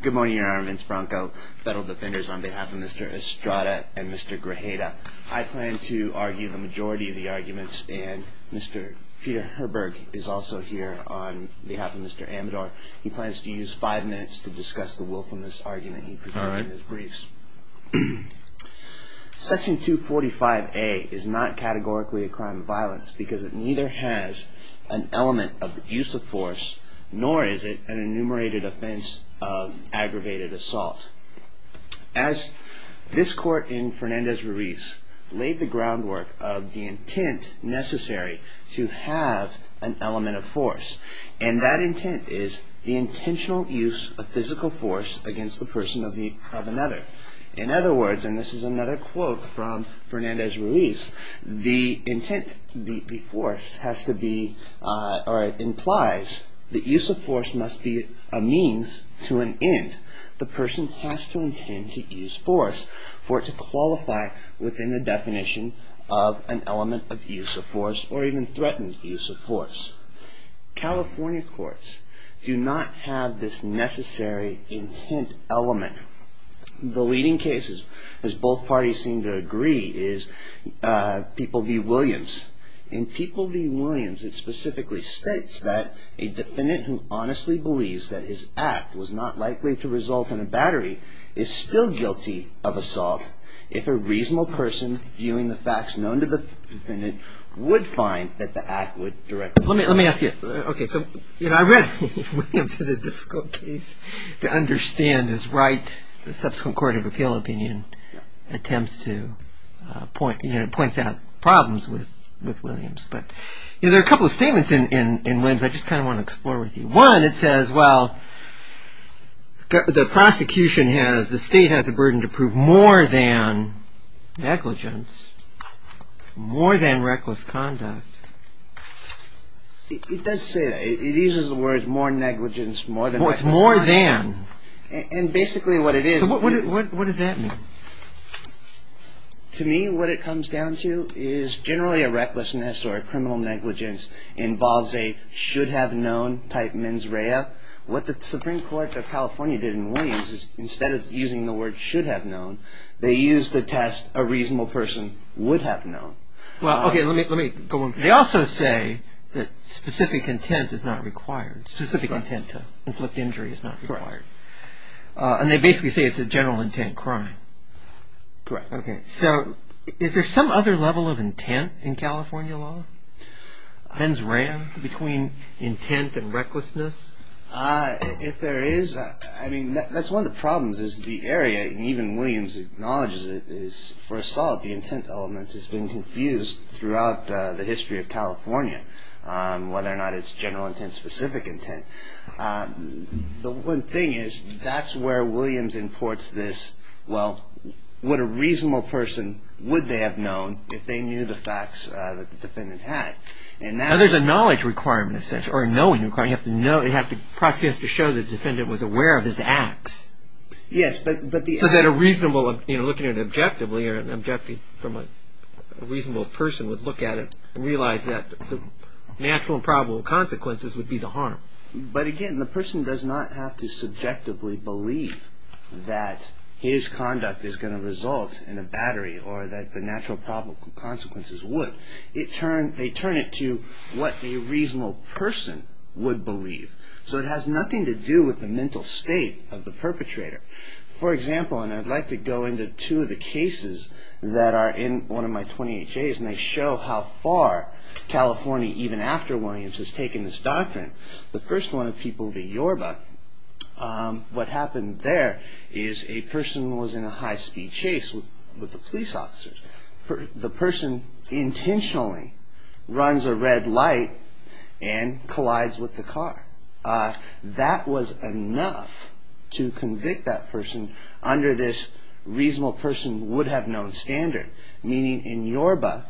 Good morning, Your Honor. I'm Vince Branco, federal defenders on behalf of Mr. Estrada and Mr. Grajeda. I plan to argue the majority of the arguments and Mr. Peter Herberg is also here on behalf of Mr. Amador. He plans to use five minutes to discuss the willfulness argument he presented in his briefs. Section 245A is not categorically a crime of violence because it neither has an element of use of force nor is it an enumerated offense of aggravated assault. As this court in Fernandez-Ruiz laid the groundwork of the intent necessary to have an element of force and that intent is the intentional use of physical force against the person of another. In other words, and this is another quote from Fernandez-Ruiz, the intent, the force has to be or implies that use of force must be a means to an end. The person has to intend to use force for it to qualify within the definition of an element of use of force or even threatened use of force. California courts do not have this necessary intent element. The leading cases, as both parties seem to agree, is People v. Williams. In People v. Williams, it specifically states that a defendant who honestly believes that his act was not likely to result in a battery is still guilty of assault if a reasonable person viewing the facts known to the defendant would find that the act would directly result in assault. Let me ask you. Okay, so, you know, I read Williams is a difficult case to understand is right. The subsequent Court of Appeal opinion attempts to point, you know, points out problems with Williams. But, you know, there are a couple of statements in Williams I just kind of want to explore with you. One, it says, well, the prosecution has, the state has a burden to prove more than negligence, more than reckless conduct. It does say that. It uses the words more negligence, more than reckless conduct. It's more than. And basically what it is. What does that mean? To me, what it comes down to is generally a recklessness or a criminal negligence involves a should have known type mens rea. What the Supreme Court of California did in Williams is instead of using the word should have known, they used the test a reasonable person would have known. Well, okay, let me go on. They also say that specific intent is not required. Specific intent to inflict injury is not required. And they basically say it's a general intent crime. Correct. Okay. So is there some other level of intent in California law, mens rea, between intent and recklessness? If there is, I mean, that's one of the problems is the area, and even Williams acknowledges it, is for assault. The intent element has been confused throughout the history of California, whether or not it's general intent, specific intent. The one thing is that's where Williams imports this, well, what a reasonable person would they have known if they knew the facts that the defendant had. Now, there's a knowledge requirement, essentially, or a knowing requirement. You have to know, you have to, prosecutors have to show the defendant was aware of his acts. Yes, but the act. So that a reasonable, you know, looking at it objectively or objecting from a reasonable person would look at it and realize that the natural and probable consequences would be the harm. But again, the person does not have to subjectively believe that his conduct is going to result in a battery or that the natural and probable consequences would. They turn it to what a reasonable person would believe. So it has nothing to do with the mental state of the perpetrator. For example, and I'd like to go into two of the cases that are in one of my 28 days, and they show how far California, even after Williams, has taken this doctrine. The first one of people, the Yorba, what happened there is a person was in a high speed chase with the police officers. The person intentionally runs a red light and collides with the car. That was enough to convict that person under this reasonable person would have known standard. Meaning in Yorba,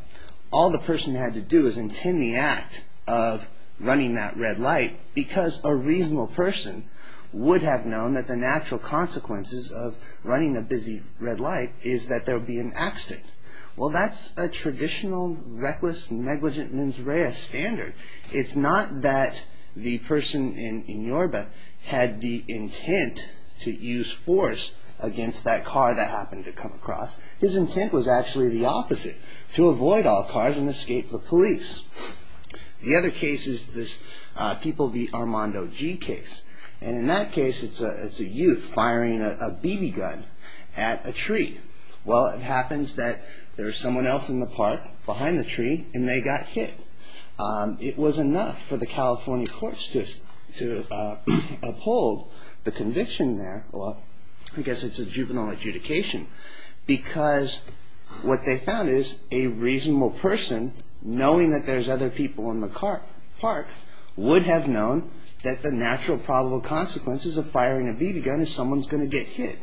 all the person had to do is intend the act of running that red light because a reasonable person would have known that the natural consequences of running a busy red light is that there would be an accident. Well, that's a traditional, reckless, negligent, mens rea standard. It's not that the person in Yorba had the intent to use force against that car that happened to come across. His intent was actually the opposite, to avoid all cars and escape the police. The other case is this people, the Armando G case. And in that case, it's a youth firing a BB gun at a tree. Well, it happens that there's someone else in the park behind the tree and they got hit. It was enough for the California courts to uphold the conviction there. Well, I guess it's a juvenile adjudication because what they found is a reasonable person knowing that there's other people in the car park would have known that the natural probable consequences of firing a BB gun is someone's going to get hit.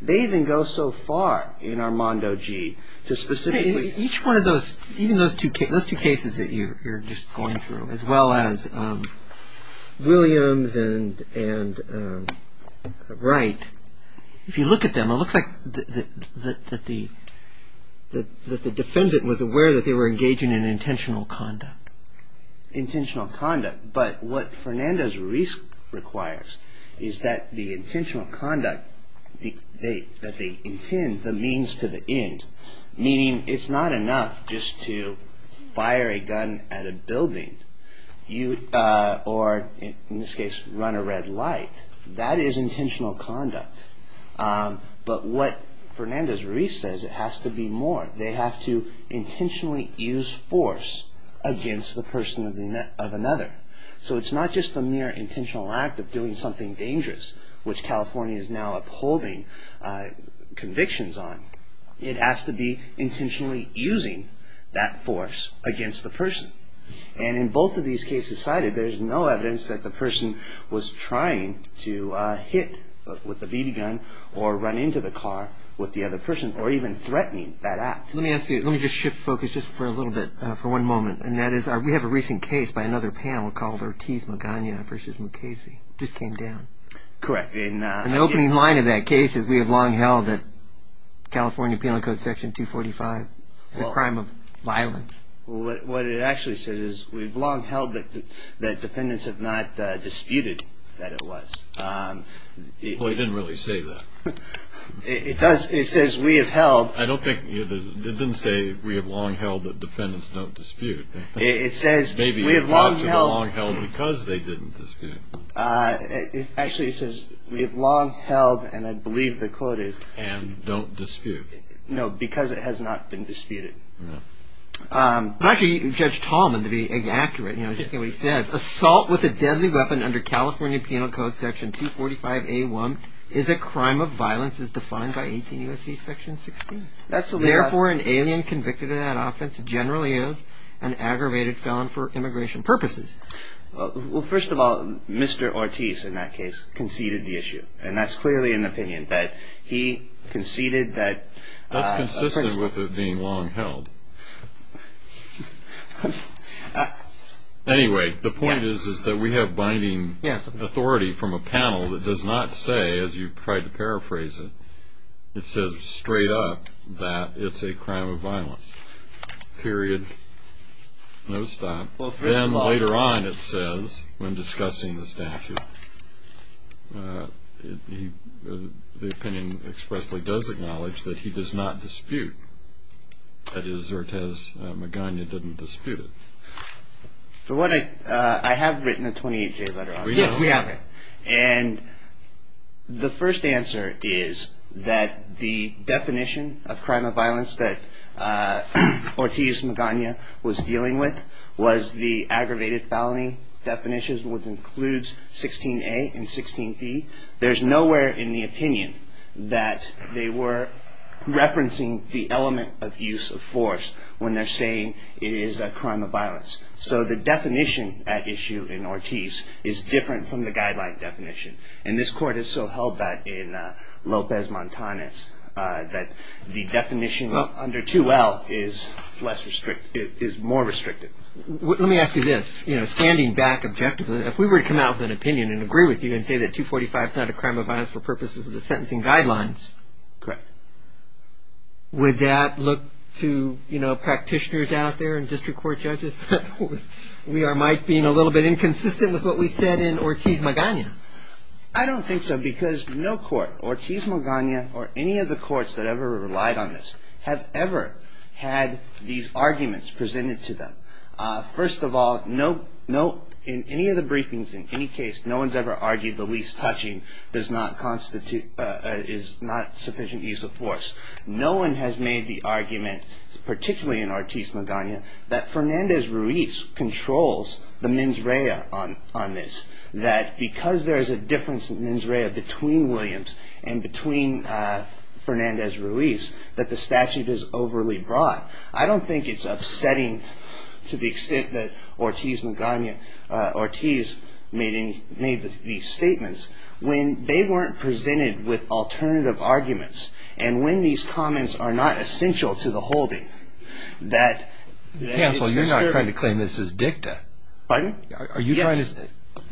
They even go so far in Armando G to specifically... As well as Williams and Wright. If you look at them, it looks like that the defendant was aware that they were engaging in intentional conduct. Intentional conduct. But what Fernandez-Ruiz requires is that the intentional conduct, that they intend the means to the end. Meaning it's not enough just to fire a gun at a building. Or in this case, run a red light. That is intentional conduct. But what Fernandez-Ruiz says, it has to be more. They have to intentionally use force against the person of another. So it's not just the mere intentional act of doing something dangerous, which California is now upholding convictions on. It has to be intentionally using that force against the person. And in both of these cases cited, there's no evidence that the person was trying to hit with a BB gun or run into the car with the other person. Or even threatening that act. Let me ask you, let me just shift focus just for a little bit, for one moment. And that is, we have a recent case by another panel called Ortiz Magana v. Mukasey. Just came down. Correct. And the opening line of that case is we have long held that California Penal Code Section 245 is a crime of violence. Well, what it actually says is we have long held that defendants have not disputed that it was. Well, it didn't really say that. It does. It says we have held. I don't think. It didn't say we have long held that defendants don't dispute. It says we have long held. Maybe it ought to have long held because they didn't dispute. Actually, it says we have long held, and I believe the quote is. And don't dispute. Don't dispute. No, because it has not been disputed. Actually, Judge Tallman, to be accurate, I just can't believe what he says. Assault with a deadly weapon under California Penal Code Section 245A1 is a crime of violence as defined by 18 U.S.C. Section 16. Therefore, an alien convicted of that offense generally is an aggravated felon for immigration purposes. Well, first of all, Mr. Ortiz, in that case, conceded the issue. And that's clearly an opinion that he conceded that. That's consistent with it being long held. Anyway, the point is that we have binding authority from a panel that does not say, as you tried to paraphrase it, it says straight up that it's a crime of violence, period, no stop. Then later on it says, when discussing the statute, the opinion expressly does acknowledge that he does not dispute. That is, Ortiz Magana didn't dispute it. For what I have written a 28-J letter on it. We have it. And the first answer is that the definition of crime of violence that Ortiz Magana was dealing with was the aggravated felony definitions, which includes 16A and 16B. There's nowhere in the opinion that they were referencing the element of use of force when they're saying it is a crime of violence. So the definition at issue in Ortiz is different from the guideline definition. And this court has so held that in Lopez Montanez, that the definition under 2L is more restricted. Let me ask you this. You know, standing back objectively, if we were to come out with an opinion and agree with you and say that 245 is not a crime of violence for purposes of the sentencing guidelines. Correct. Would that look to, you know, practitioners out there and district court judges? We might be a little bit inconsistent with what we said in Ortiz Magana. I don't think so because no court, Ortiz Magana or any of the courts that ever relied on this, have ever had these arguments presented to them. First of all, in any of the briefings, in any case, no one's ever argued the least touching is not sufficient use of force. No one has made the argument, particularly in Ortiz Magana, that Fernandez Ruiz controls the mens rea on this. That because there is a difference in mens rea between Williams and between Fernandez Ruiz, that the statute is overly broad. I don't think it's upsetting to the extent that Ortiz Magana, Ortiz, made these statements when they weren't presented with alternative arguments. And when these comments are not essential to the holding, that... Counsel, you're not trying to claim this is dicta. Pardon? Are you trying to... Yes.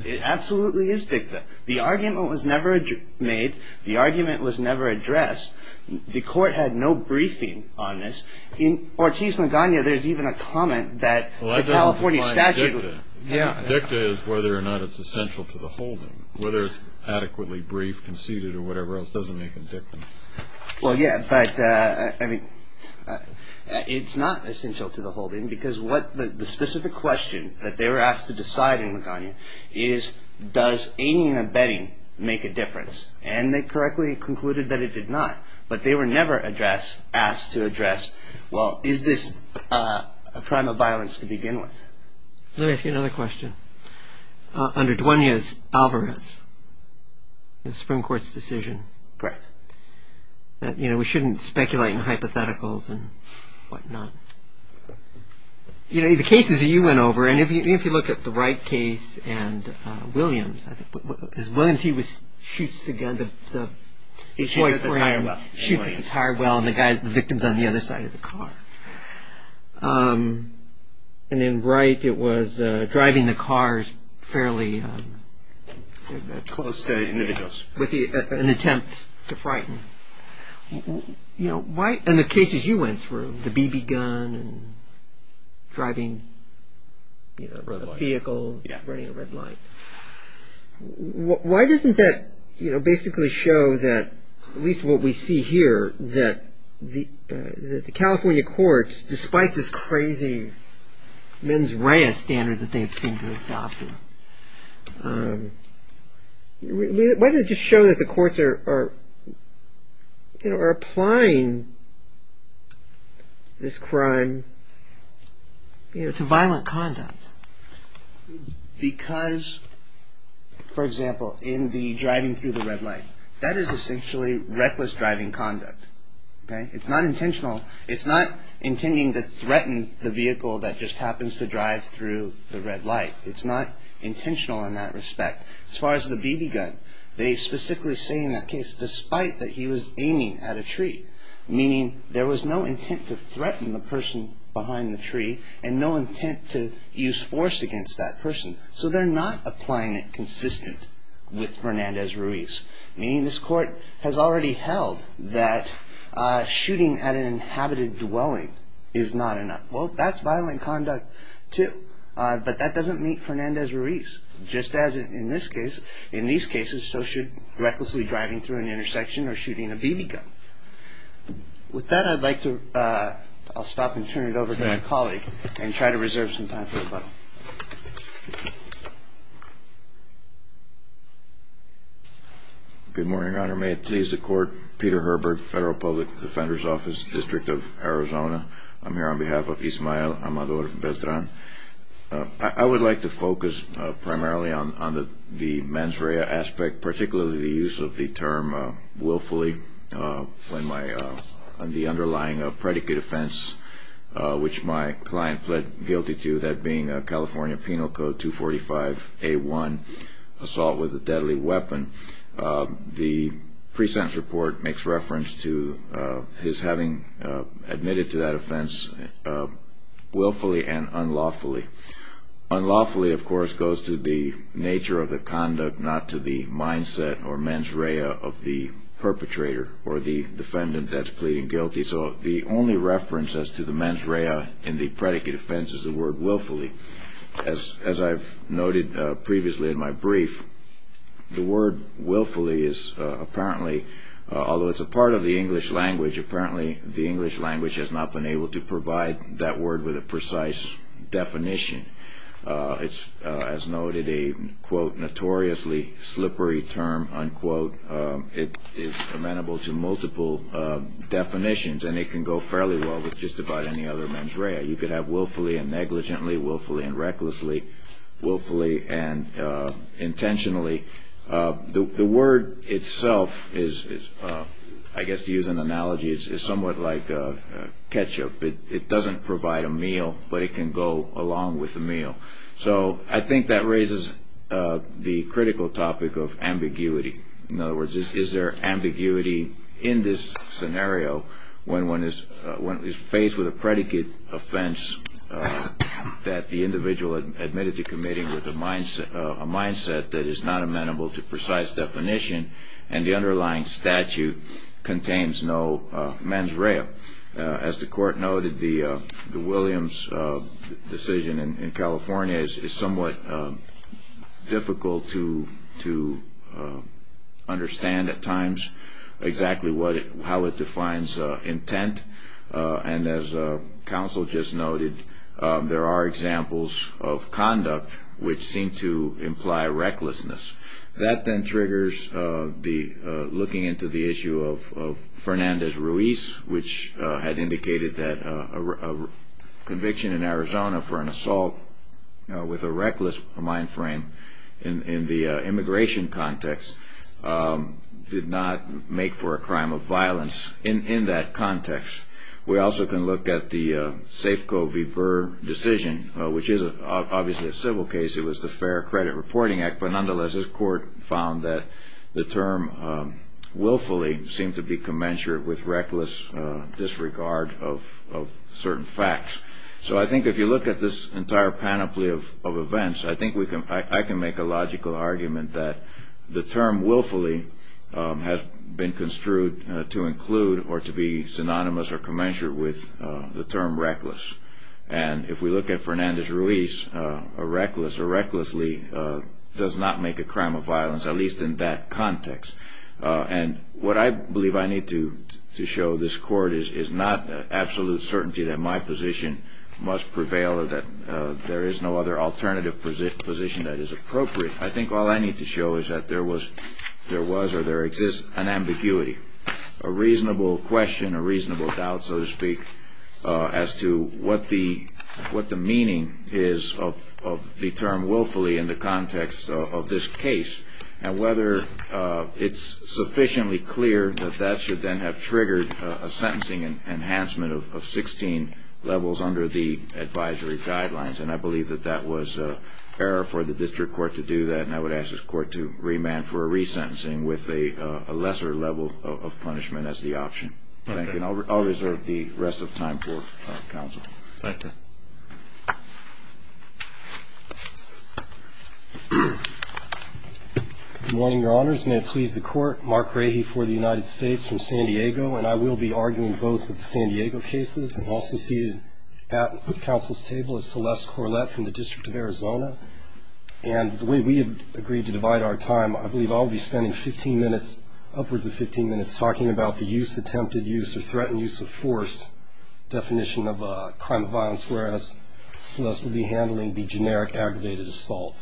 It absolutely is dicta. The argument was never made. The argument was never addressed. The court had no briefing on this. In Ortiz Magana, there's even a comment that the California statute... Well, that doesn't define dicta. Yeah. Dicta is whether or not it's essential to the holding. Whether it's adequately briefed, conceded, or whatever else doesn't make it dicta. Well, yeah, but, I mean, it's not essential to the holding because what the specific question that they were asked to decide in Magana is, does aiding and abetting make a difference? And they correctly concluded that it did not. But they were never asked to address, well, is this a crime of violence to begin with? Let me ask you another question. Under Duania's Alvarez, the Supreme Court's decision... Correct. That, you know, we shouldn't speculate in hypotheticals and whatnot. Correct. You know, the cases that you went over, and if you look at the Wright case and Williams, because Williams, he shoots the gun, the... He shoots at the tire well. He shoots at the tire well, and the victim's on the other side of the car. And in Wright, it was driving the cars fairly... Close to individuals. With an attempt to frighten. You know, in the cases you went through, the BB gun and driving a vehicle, running a red light, why doesn't that basically show that, at least what we see here, that the California courts, despite this crazy mens rea standard that they seem to have adopted, why does it just show that the courts are applying this crime to violent conduct? Because, for example, in the driving through the red light, that is essentially reckless driving conduct. Okay? It's not intentional. It's not intending to threaten the vehicle that just happens to drive through the red light. It's not intentional in that respect. As far as the BB gun, they specifically say in that case, despite that he was aiming at a tree, meaning there was no intent to threaten the person behind the tree, and no intent to use force against that person. So they're not applying it consistent with Hernandez-Ruiz. Meaning this court has already held that shooting at an inhabited dwelling is not enough. Well, that's violent conduct too. But that doesn't meet Hernandez-Ruiz, just as in this case. In these cases, so should recklessly driving through an intersection or shooting a BB gun. With that, I'd like to stop and turn it over to my colleague and try to reserve some time for rebuttal. Good morning, Your Honor. May it please the Court. Peter Herbert, Federal Public Defender's Office, District of Arizona. I'm here on behalf of Ismael Amador Beltran. I would like to focus primarily on the mens rea aspect, particularly the use of the term willfully on the underlying predicate offense, which my client pled guilty to, that being a California Penal Code 245A1, assault with a deadly weapon. The present report makes reference to his having admitted to that offense willfully and unlawfully. Unlawfully, of course, goes to the nature of the conduct, not to the mindset or mens rea of the perpetrator or the defendant that's pleading guilty. So the only reference as to the mens rea in the predicate offense is the word willfully. As I've noted previously in my brief, the word willfully is apparently, although it's a part of the English language, apparently the English language has not been able to provide that word with a precise definition. It's, as noted, a, quote, notoriously slippery term, unquote. It's amenable to multiple definitions, and it can go fairly well with just about any other mens rea. You could have willfully and negligently, willfully and recklessly, willfully and intentionally. The word itself is, I guess to use an analogy, is somewhat like ketchup. It doesn't provide a meal, but it can go along with a meal. So I think that raises the critical topic of ambiguity. In other words, is there ambiguity in this scenario when one is faced with a predicate offense that the individual admitted to committing with a mindset that is not amenable to precise definition and the underlying statute contains no mens rea. As the court noted, the Williams decision in California is somewhat difficult to understand at times exactly how it defines intent. And as counsel just noted, there are examples of conduct which seem to imply recklessness. That then triggers looking into the issue of Fernandez-Ruiz, which had indicated that a conviction in Arizona for an assault with a reckless mind frame in the immigration context did not make for a crime of violence in that context. We also can look at the Safeco v. Burr decision, which is obviously a civil case. It was the Fair Credit Reporting Act, but nonetheless this court found that the term willfully seemed to be commensurate with reckless disregard of certain facts. So I think if you look at this entire panoply of events, I think I can make a logical argument that the term willfully has been construed to include or to be synonymous or commensurate with the term reckless. And if we look at Fernandez-Ruiz, a reckless or recklessly does not make a crime of violence, at least in that context. And what I believe I need to show this court is not absolute certainty that my position must prevail or that there is no other alternative position that is appropriate. I think all I need to show is that there was or there exists an ambiguity, a reasonable question, a reasonable doubt, so to speak, as to what the meaning is of the term willfully in the context of this case and whether it's sufficiently clear that that should then have triggered a sentencing enhancement of 16 levels under the advisory guidelines. And I believe that that was error for the district court to do that, and I would ask this court to remand for a resentencing with a lesser level of punishment as the option. Thank you. And I'll reserve the rest of time for counsel. Thank you. Good morning, Your Honors. May it please the Court. Mark Rahe for the United States from San Diego. And I will be arguing both of the San Diego cases. I'm also seated at counsel's table at Celeste Corlett from the District of Arizona. And the way we have agreed to divide our time, I believe I'll be spending 15 minutes, upwards of 15 minutes talking about the use, attempted use, or threatened use of force definition of a crime of violence, whereas Celeste will be handling the generic aggravated assault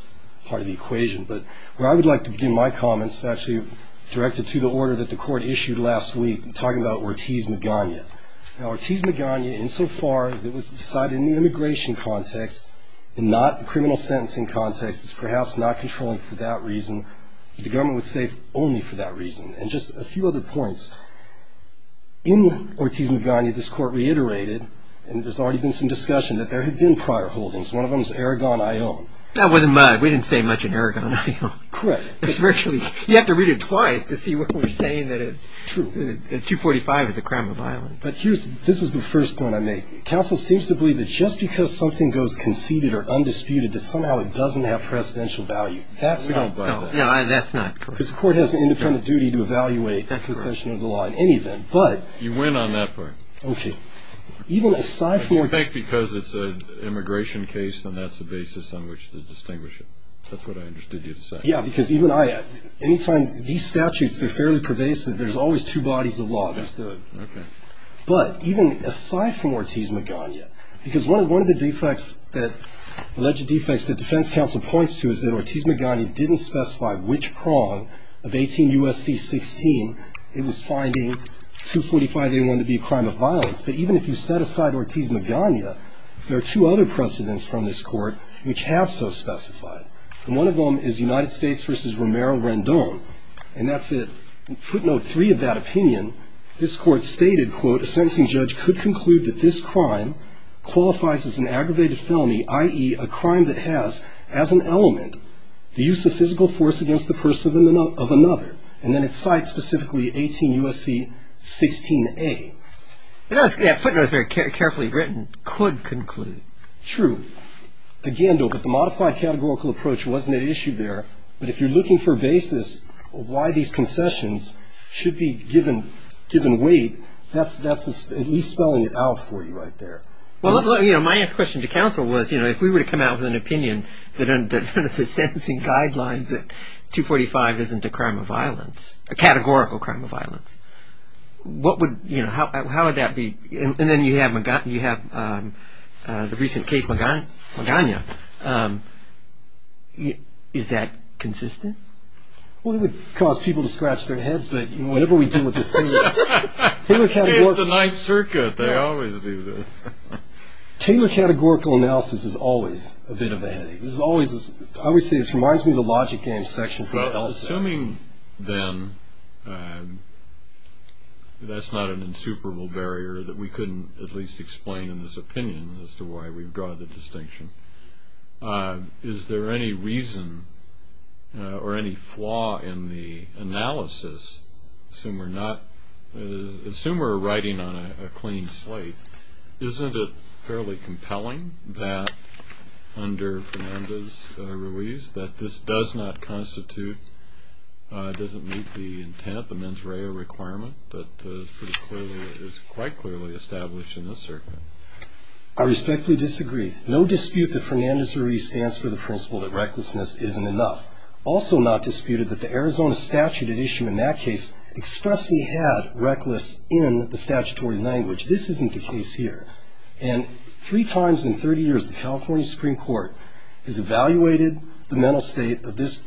part of the equation. But where I would like to begin my comments is actually directed to the order that the court issued last week in talking about Ortiz-Magana. Now, Ortiz-Magana, insofar as it was decided in the immigration context and not the criminal sentencing context, is perhaps not controlling for that reason. The government would say only for that reason. And just a few other points. In Ortiz-Magana, this court reiterated, and there's already been some discussion, that there have been prior holdings. One of them is Aragon-Ion. That wasn't much. We didn't say much in Aragon-Ion. Correct. You have to read it twice to see what we're saying, that a 245 is a crime of violence. But this is the first point I make. Counsel seems to believe that just because something goes conceded or undisputed, that somehow it doesn't have presidential value. No, that's not correct. Because the court has an independent duty to evaluate that concession of the law in any event. You win on that part. Okay. You think because it's an immigration case, then that's the basis on which to distinguish it. That's what I understood you to say. Yeah, because even I, anytime, these statutes, they're fairly pervasive. There's always two bodies of law. I understood. Okay. But even aside from Ortiz-Magana, because one of the defects that, alleged defects, that defense counsel points to is that Ortiz-Magana didn't specify which prong of 18 U.S.C. 16. It was finding 245A1 to be a crime of violence. But even if you set aside Ortiz-Magana, there are two other precedents from this court which have so specified. And one of them is United States v. Romero Rendon. And that's a footnote three of that opinion. This court stated, quote, A sentencing judge could conclude that this crime qualifies as an aggravated felony, i.e., a crime that has as an element the use of physical force against the person of another. And then it cites specifically 18 U.S.C. 16A. That footnote is very carefully written. Could conclude. True. Again, though, that the modified categorical approach wasn't at issue there. But if you're looking for a basis of why these concessions should be given weight, that's at least spelling it out for you right there. Well, you know, my next question to counsel was, you know, if we were to come out with an opinion that the sentencing guidelines that 245 isn't a crime of violence, a categorical crime of violence, what would, you know, how would that be? And then you have the recent case, Magana. Is that consistent? Well, it would cause people to scratch their heads, but whatever we do with this team. It's the ninth circuit. They always do this. Taylor categorical analysis is always a bit of a headache. Obviously, this reminds me of the logic game section from the LSA. Assuming then that's not an insuperable barrier that we couldn't at least explain in this opinion as to why we've drawn the distinction. Is there any reason or any flaw in the analysis? Assume we're not. Assume we're writing on a clean slate. Isn't it fairly compelling that under Fernandez-Ruiz that this does not constitute, doesn't meet the intent, the mens rea requirement that is quite clearly established in this circuit? I respectfully disagree. No dispute that Fernandez-Ruiz stands for the principle that recklessness isn't enough. Also not disputed that the Arizona statute had issued in that case expressly had reckless in the statutory language. This isn't the case here. And three times in 30 years, the California Supreme Court has evaluated the mental state of this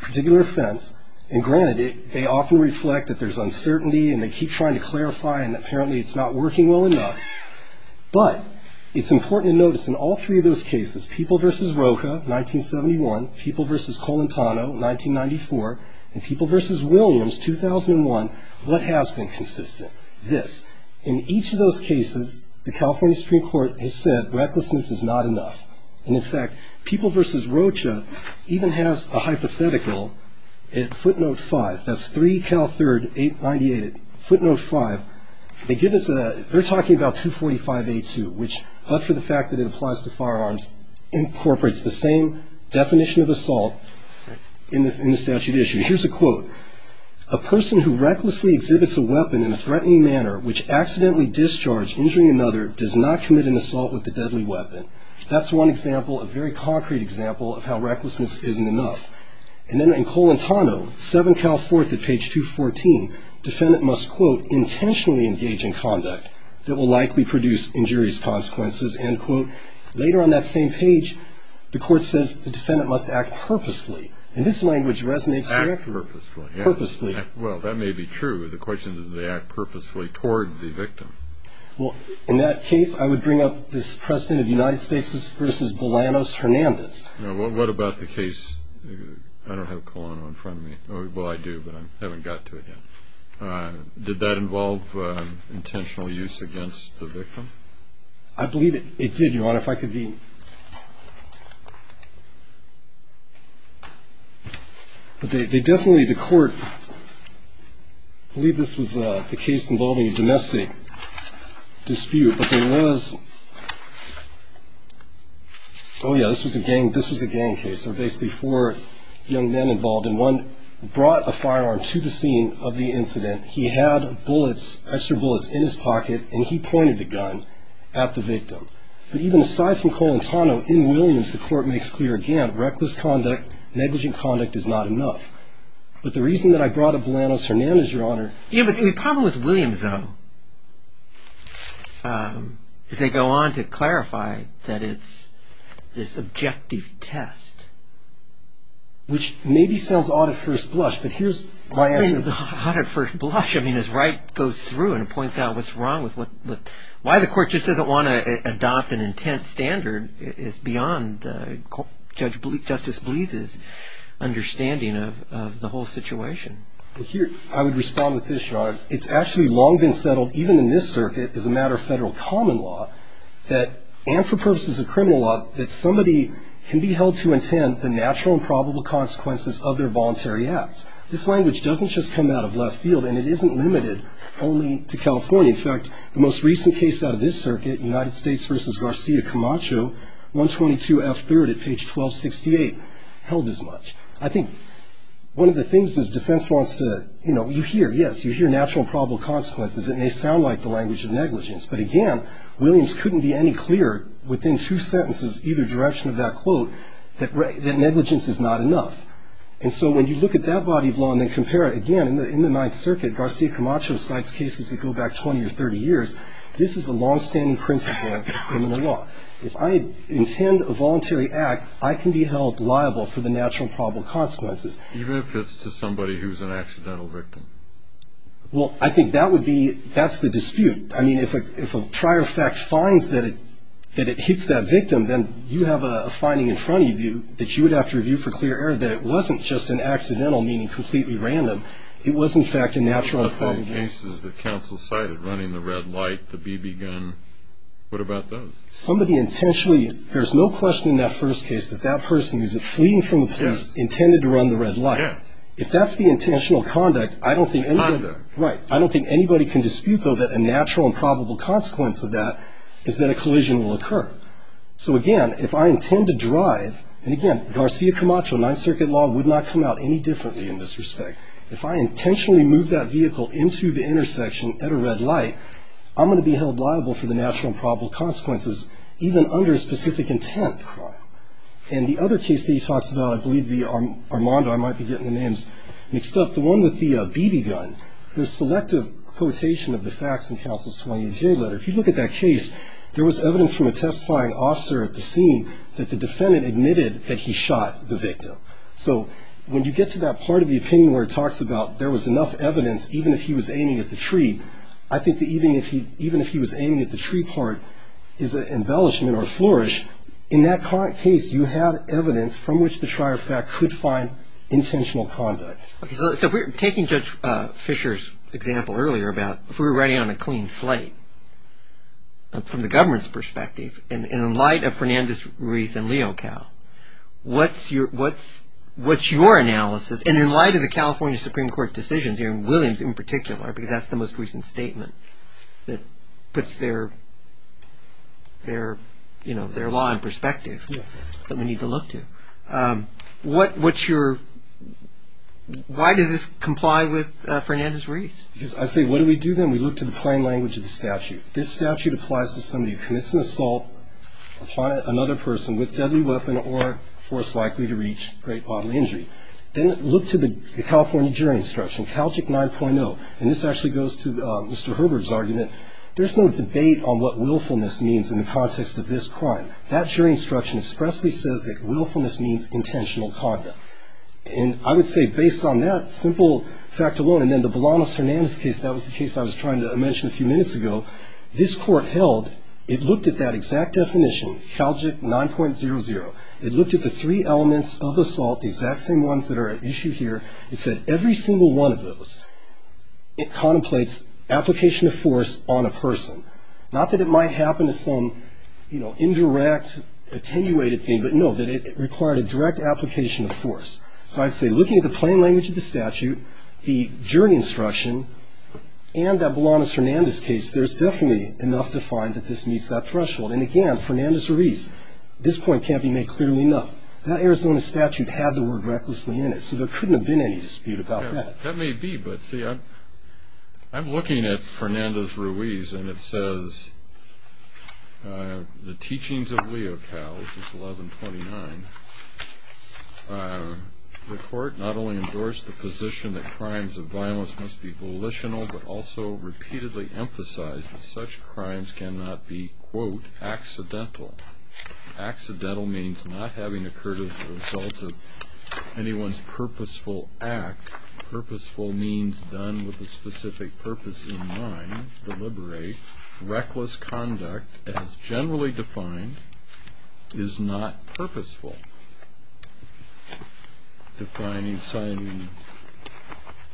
particular offense. And granted, they often reflect that there's uncertainty, and they keep trying to clarify, and apparently it's not working well enough. But it's important to notice in all three of those cases, People v. Rocha, 1971, People v. Colentano, 1994, and People v. Williams, 2001, what has been consistent? This. In each of those cases, the California Supreme Court has said recklessness is not enough. And in fact, People v. Rocha even has a hypothetical at footnote 5. That's 3 Cal 3rd 898 at footnote 5. They give us a, they're talking about 245A2, which, after the fact that it applies to firearms, incorporates the same definition of assault in the statute issue. Here's a quote. A person who recklessly exhibits a weapon in a threatening manner, which accidentally discharged injuring another, does not commit an assault with a deadly weapon. That's one example, a very concrete example of how recklessness isn't enough. And then in Colentano, 7 Cal 4th at page 214, defendant must, quote, intentionally engage in conduct that will likely produce injurious consequences, end quote. Later on that same page, the court says the defendant must act purposefully. And this language resonates. Act purposefully. Purposefully. Well, that may be true. The question is do they act purposefully toward the victim? Well, in that case, I would bring up this President of the United States v. Bolanos Hernandez. What about the case, I don't have Colono in front of me. Well, I do, but I haven't got to it yet. Did that involve intentional use against the victim? I believe it did, Your Honor. Your Honor, if I could be. They definitely, the court, I believe this was the case involving a domestic dispute. But there was, oh, yeah, this was a gang case. There were basically four young men involved, and one brought a firearm to the scene of the incident. He had bullets, extra bullets, in his pocket, and he pointed the gun at the victim. But even aside from Colon Tano, in Williams, the court makes clear again, reckless conduct, negligent conduct is not enough. But the reason that I brought up Bolanos Hernandez, Your Honor. Yeah, but the problem with Williams, though, is they go on to clarify that it's this objective test. Which maybe sounds odd at first blush, but here's my answer. Odd at first blush? I mean, as Wright goes through and points out what's wrong with what, why the court just doesn't want to adopt an intent standard is beyond Justice Bleeze's understanding of the whole situation. Here, I would respond with this, Your Honor. It's actually long been settled, even in this circuit, as a matter of federal common law, that, and for purposes of criminal law, that somebody can be held to intent the natural and probable consequences of their voluntary acts. This language doesn't just come out of left field, and it isn't limited only to California. In fact, the most recent case out of this circuit, United States v. Garcia Camacho, 122F3rd at page 1268, held as much. I think one of the things is defense wants to, you know, you hear, yes, you hear natural and probable consequences. It may sound like the language of negligence. But again, Williams couldn't be any clearer within two sentences, either direction of that quote, that negligence is not enough. And so when you look at that body of law and then compare it, again, in the Ninth Circuit, Garcia Camacho cites cases that go back 20 or 30 years. This is a longstanding principle of criminal law. If I intend a voluntary act, I can be held liable for the natural and probable consequences. Even if it's to somebody who's an accidental victim? Well, I think that would be, that's the dispute. I mean, if a trier of fact finds that it, that it hits that victim, then you have a finding in front of you that you would have to review for clear error that it wasn't just an accidental, meaning completely random. It was, in fact, a natural and probable case. What about the cases that counsel cited, running the red light, the BB gun? What about those? Somebody intentionally, there's no question in that first case that that person who's fleeing from the police intended to run the red light. Yeah. If that's the intentional conduct, I don't think anybody. Conduct. Right. I don't think anybody can dispute, though, that a natural and probable consequence of that is that a collision will occur. So, again, if I intend to drive, and, again, Garcia Camacho, Ninth Circuit law would not come out any differently in this respect. If I intentionally move that vehicle into the intersection at a red light, I'm going to be held liable for the natural and probable consequences, even under a specific intent crime. And the other case that he talks about, I believe the Armando, I might be getting the names mixed up, the one with the BB gun, the selective quotation of the facts in counsel's 28-J letter, if you look at that case, there was evidence from a testifying officer at the scene that the defendant admitted that he shot the victim. So when you get to that part of the opinion where it talks about there was enough evidence, even if he was aiming at the tree, I think that even if he was aiming at the tree part is an embellishment or flourish. In that case, you have evidence from which the trier of fact could find intentional conduct. So taking Judge Fisher's example earlier about if we were writing on a clean slate, from the government's perspective, and in light of Fernandez-Ruiz and Leocal, what's your analysis, and in light of the California Supreme Court decisions, and Williams in particular, because that's the most recent statement that puts their law in perspective that we need to look to, what's your, why does this comply with Fernandez-Ruiz? Because I'd say what do we do then? We look to the plain language of the statute. This statute applies to somebody who commits an assault upon another person with deadly weapon or force likely to reach great bodily injury. Then look to the California jury instruction, CALJIC 9.0, and this actually goes to Mr. Herbert's argument. There's no debate on what willfulness means in the context of this crime. That jury instruction expressly says that willfulness means intentional conduct. And I would say based on that simple fact alone, and then the Belano-Fernandez case, that was the case I was trying to mention a few minutes ago, this Court held, it looked at that exact definition, CALJIC 9.00. It looked at the three elements of assault, the exact same ones that are at issue here. It said every single one of those, it contemplates application of force on a person. Not that it might happen to some, you know, indirect, attenuated thing, but, no, that it required a direct application of force. So I'd say looking at the plain language of the statute, the jury instruction, and that Belano-Fernandez case, there's definitely enough to find that this meets that threshold. And, again, Fernandez-Ruiz, this point can't be made clearly enough. That Arizona statute had the word recklessly in it, so there couldn't have been any dispute about that. That may be, but, see, I'm looking at Fernandez-Ruiz, and it says, the teachings of Leo Cals, this is 1129, the court not only endorsed the position that crimes of violence must be volitional, but also repeatedly emphasized that such crimes cannot be, quote, accidental. Accidental means not having occurred as a result of anyone's purposeful act. Purposeful means done with a specific purpose in mind, deliberate. Reckless conduct, as generally defined, is not purposeful. Defining, signing,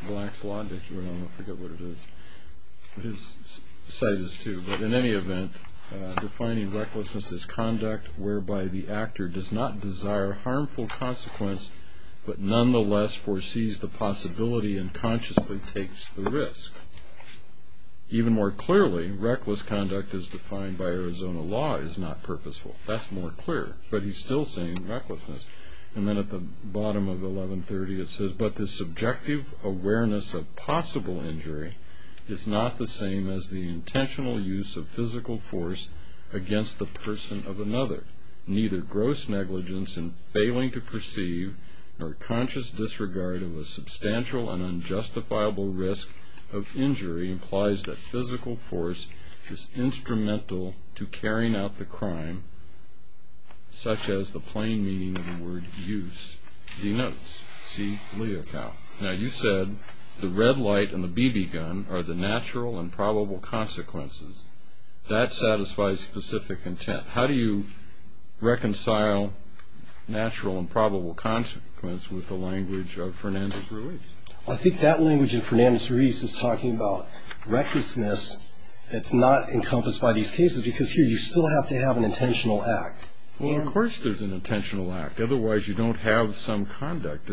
Black's Law, I forget what it is, his cite is two, but in any event, defining recklessness as conduct whereby the actor does not desire harmful consequence, but nonetheless foresees the possibility and consciously takes the risk. Even more clearly, reckless conduct as defined by Arizona law is not purposeful. That's more clear, but he's still saying recklessness. And then at the bottom of 1130, it says, but the subjective awareness of possible injury is not the same as the intentional use of physical force against the person of another. Neither gross negligence in failing to perceive nor conscious disregard of a substantial and unjustifiable risk of injury implies that physical force is instrumental to carrying out the crime, such as the plain meaning of the word use denotes. See, Leo Cow. Now, you said the red light and the BB gun are the natural and probable consequences. That satisfies specific intent. How do you reconcile natural and probable consequence with the language of Fernandez-Ruiz? I think that language of Fernandez-Ruiz is talking about recklessness. It's not encompassed by these cases because here you still have to have an intentional act. Well, of course there's an intentional act. Otherwise, you don't have some conduct.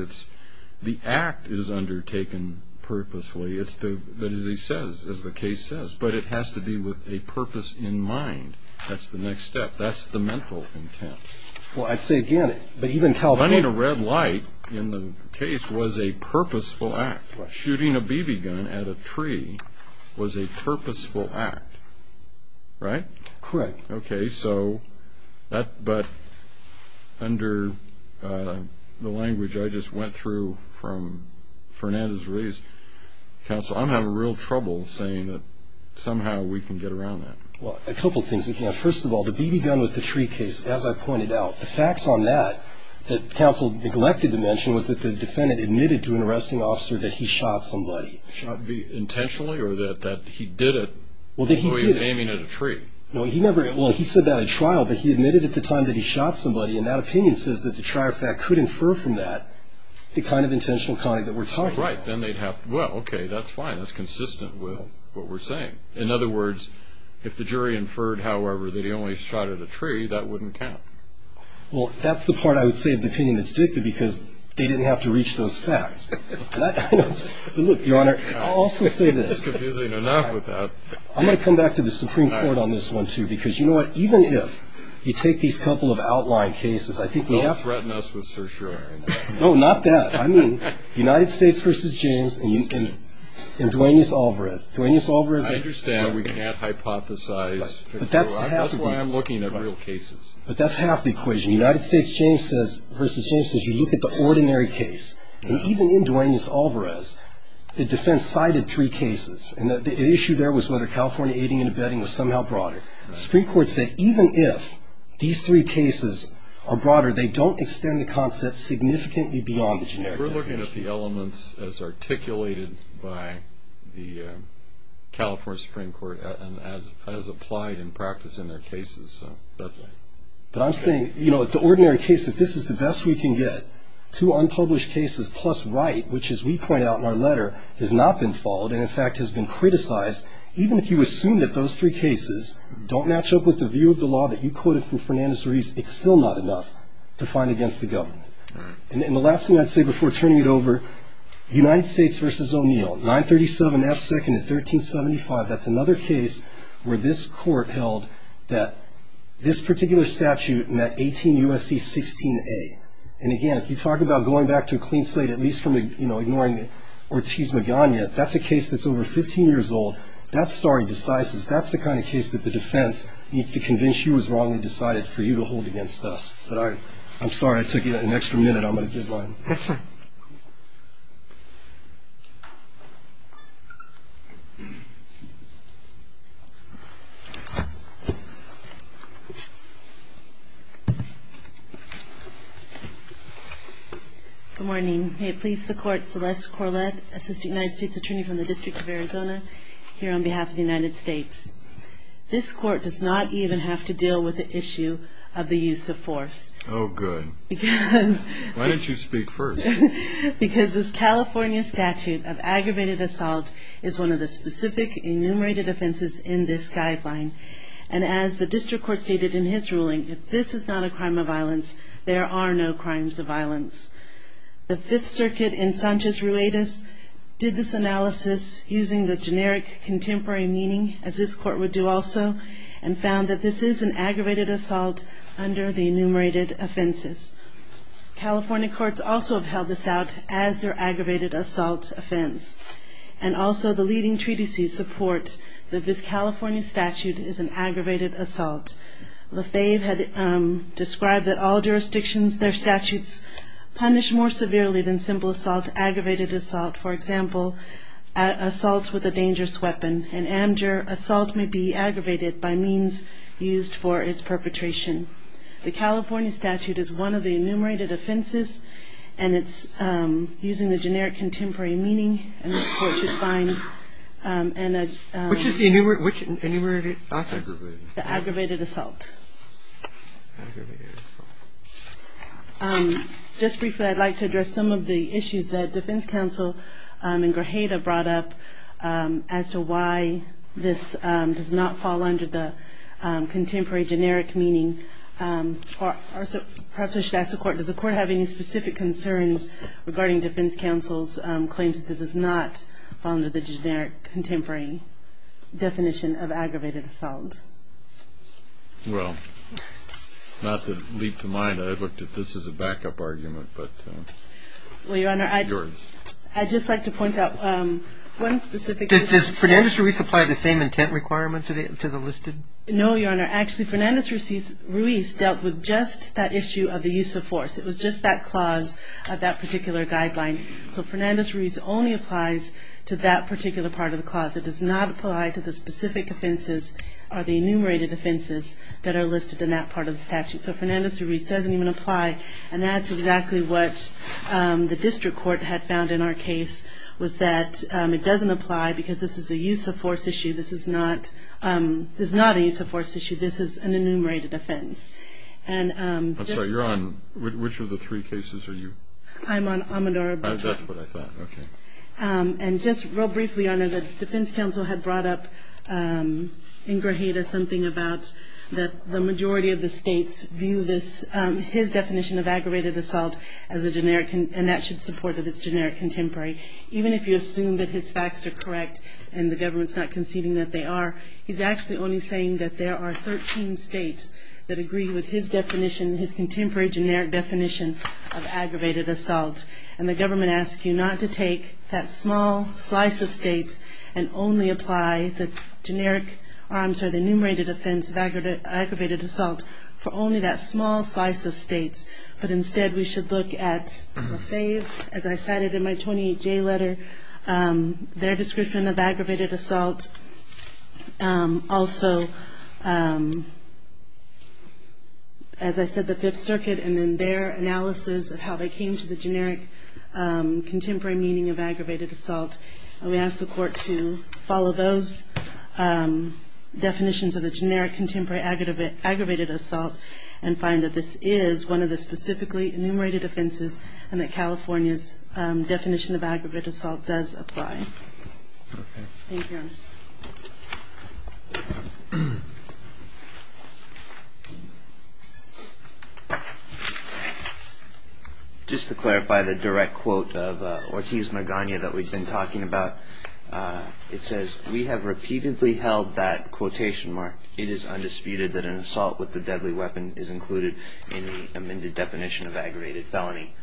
The act is undertaken purposefully, as the case says, but it has to be with a purpose in mind. That's the next step. That's the mental intent. Well, I'd say again, but even California. Running a red light in the case was a purposeful act. Shooting a BB gun at a tree was a purposeful act, right? Correct. Okay, but under the language I just went through from Fernandez-Ruiz, counsel, I'm having real trouble saying that somehow we can get around that. Well, a couple things again. First of all, the BB gun with the tree case, as I pointed out, the facts on that that counsel neglected to mention was that the defendant admitted to an arresting officer that he shot somebody. Shot intentionally or that he did it although he was aiming at a tree? Well, he said that at trial, but he admitted at the time that he shot somebody, and that opinion says that the trial fact could infer from that the kind of intentional conduct that we're talking about. Right. Well, okay, that's fine. That's consistent with what we're saying. In other words, if the jury inferred, however, that he only shot at a tree, that wouldn't count. Well, that's the part I would say of the opinion that's dictated because they didn't have to reach those facts. Look, Your Honor, I'll also say this. It's confusing enough with that. I'm going to come back to the Supreme Court on this one, too, because, you know what, even if you take these couple of outlined cases, I think we have to. Don't threaten us with certiorari. No, not that. I mean United States v. James and Duaneus Alvarez. Duaneus Alvarez. I understand we can't hypothesize. That's why I'm looking at real cases. But that's half the equation. United States v. James says you look at the ordinary case, and even in Duaneus Alvarez the defense cited three cases, and the issue there was whether California aiding and abetting was somehow broader. The Supreme Court said even if these three cases are broader, they don't extend the concept significantly beyond the generic definition. We're looking at the elements as articulated by the California Supreme Court and as applied in practice in their cases. But I'm saying, you know, the ordinary case, if this is the best we can get, two unpublished cases plus Wright, which, as we point out in our letter, has not been followed and, in fact, has been criticized, even if you assume that those three cases don't match up with the view of the law that you quoted from Fernandez-Reeves, it's still not enough to find against the government. And the last thing I'd say before turning it over, United States v. O'Neill, 937 F. 2nd and 1375, that's another case where this court held that this particular statute met 18 U.S.C. 16A. And, again, if you talk about going back to a clean slate, at least from, you know, ignoring Ortiz Magana, that's a case that's over 15 years old. That's stare decisis. That's the kind of case that the defense needs to convince you was wrong and decided for you to hold against us. But I'm sorry I took you an extra minute. I'm going to give mine. That's fine. Good morning. May it please the Court, Celeste Corlett, Assistant United States Attorney from the District of Arizona, here on behalf of the United States. This court does not even have to deal with the issue of the use of force. Oh, good. Why didn't you speak first? Because this California statute of aggravated assault is one of the specific enumerated offenses in this guideline. And as the district court stated in his ruling, if this is not a crime of violence, there are no crimes of violence. The Fifth Circuit in Sanchez-Ruiz did this analysis using the generic contemporary meaning, as this court would do also, and found that this is an aggravated assault under the enumerated offenses. California courts also have held this out as their aggravated assault offense. And also the leading treatises support that this California statute is an aggravated assault. LaFave had described that all jurisdictions, their statutes punish more severely than simple assault, aggravated assault, for example, assaults with a dangerous weapon. In Amjur, assault may be aggravated by means used for its perpetration. The California statute is one of the enumerated offenses, and it's using the generic contemporary meaning, and this court should find an- Which is the enumerated, which enumerated offense? The aggravated assault. Aggravated assault. Just briefly, I'd like to address some of the issues that defense counsel in Grajeda brought up as to why this does not fall under the contemporary generic meaning. Perhaps I should ask the court, does the court have any specific concerns regarding defense counsel's claims that this does not fall under the generic contemporary definition of aggravated assault? Well, not to leap the mind, I looked at this as a backup argument, but yours. Well, Your Honor, I'd just like to point out one specific- Does Fernandez-Ruiz apply the same intent requirement to the listed? No, Your Honor. Actually, Fernandez-Ruiz dealt with just that issue of the use of force. It was just that clause of that particular guideline. So Fernandez-Ruiz only applies to that particular part of the clause. It does not apply to the specific offenses or the enumerated offenses that are listed in that part of the statute. So Fernandez-Ruiz doesn't even apply. And that's exactly what the district court had found in our case, was that it doesn't apply because this is a use of force issue. This is not a use of force issue. This is an enumerated offense. I'm sorry, you're on- which of the three cases are you-? I'm on Amadora-Baton. That's what I thought. Okay. And just real briefly, Your Honor, the defense counsel had brought up in Grajeda something about the majority of the states view his definition of aggravated assault as a generic- and that should support that it's generic contemporary. Even if you assume that his facts are correct and the government's not conceding that they are, he's actually only saying that there are 13 states that agree with his definition, his contemporary generic definition of aggravated assault. And the government asks you not to take that small slice of states and only apply the numerated offense of aggravated assault for only that small slice of states. But instead we should look at Fave, as I cited in my 28-J letter, their description of aggravated assault. Also, as I said, the Fifth Circuit and in their analysis of how they came to the generic contemporary meaning of aggravated assault, we ask the Court to follow those definitions of the generic contemporary aggravated assault and find that this is one of the specifically enumerated offenses and that California's definition of aggravated assault does apply. Okay. Thank you, Your Honor. Just to clarify the direct quote of Ortiz Magana that we've been talking about, it says, We have repeatedly held that quotation mark. It is undisputed that an assault with a deadly weapon is included in the amended definition of aggravated felony.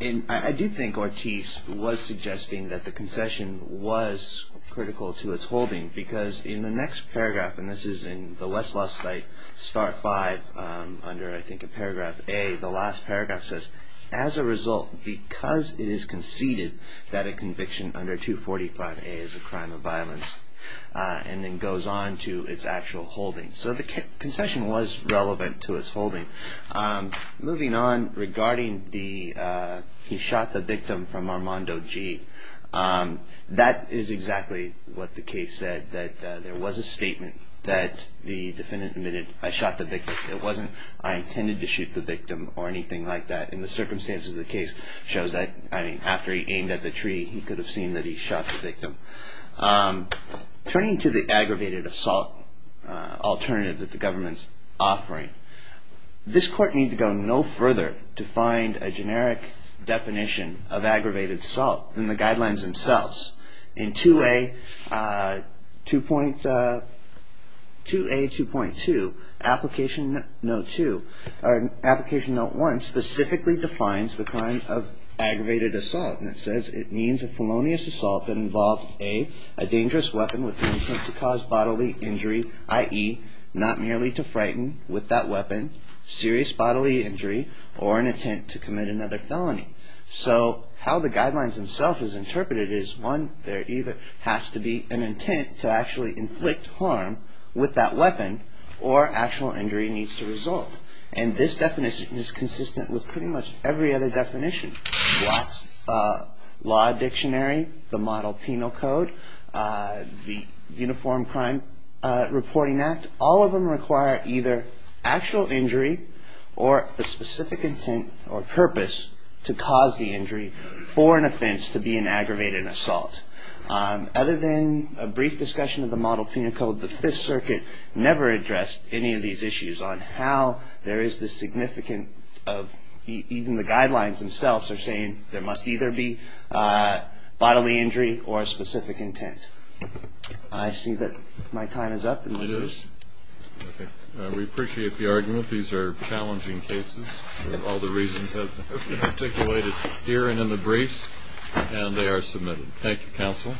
And I do think Ortiz was suggesting that the concession was critical to its holding because in the next paragraph, and this is in the Westlaw site, Start 5, under, I think, in paragraph A, the last paragraph says, As a result, because it is conceded that a conviction under 245A is a crime of violence, and then goes on to its actual holding. So the concession was relevant to its holding. Moving on, regarding the, He shot the victim from Armando G. That is exactly what the case said, that there was a statement that the defendant admitted, I shot the victim. It wasn't, I intended to shoot the victim or anything like that. And the circumstances of the case shows that, I mean, after he aimed at the tree, he could have seen that he shot the victim. Turning to the aggravated assault alternative that the government's offering, this court need to go no further to find a generic definition of aggravated assault than the guidelines themselves. In 2A, 2.2, Application Note 2, or Application Note 1, specifically defines the crime of aggravated assault, and it says, It means a felonious assault that involved, A, a dangerous weapon with intent to cause bodily injury, i.e., not merely to frighten with that weapon, serious bodily injury, or an intent to commit another felony. So how the guidelines themselves is interpreted is, One, there either has to be an intent to actually inflict harm with that weapon, or actual injury needs to result. And this definition is consistent with pretty much every other definition. Watts Law Dictionary, the Model Penal Code, the Uniform Crime Reporting Act, all of them require either actual injury, or a specific intent or purpose to cause the injury, for an offense to be an aggravated assault. Other than a brief discussion of the Model Penal Code, the Fifth Circuit never addressed any of these issues on how there is this significant, even the guidelines themselves are saying, there must either be bodily injury or a specific intent. I see that my time is up. It is. We appreciate the argument. These are challenging cases. All the reasons have been articulated here and in the briefs, and they are submitted. Thank you, Counsel.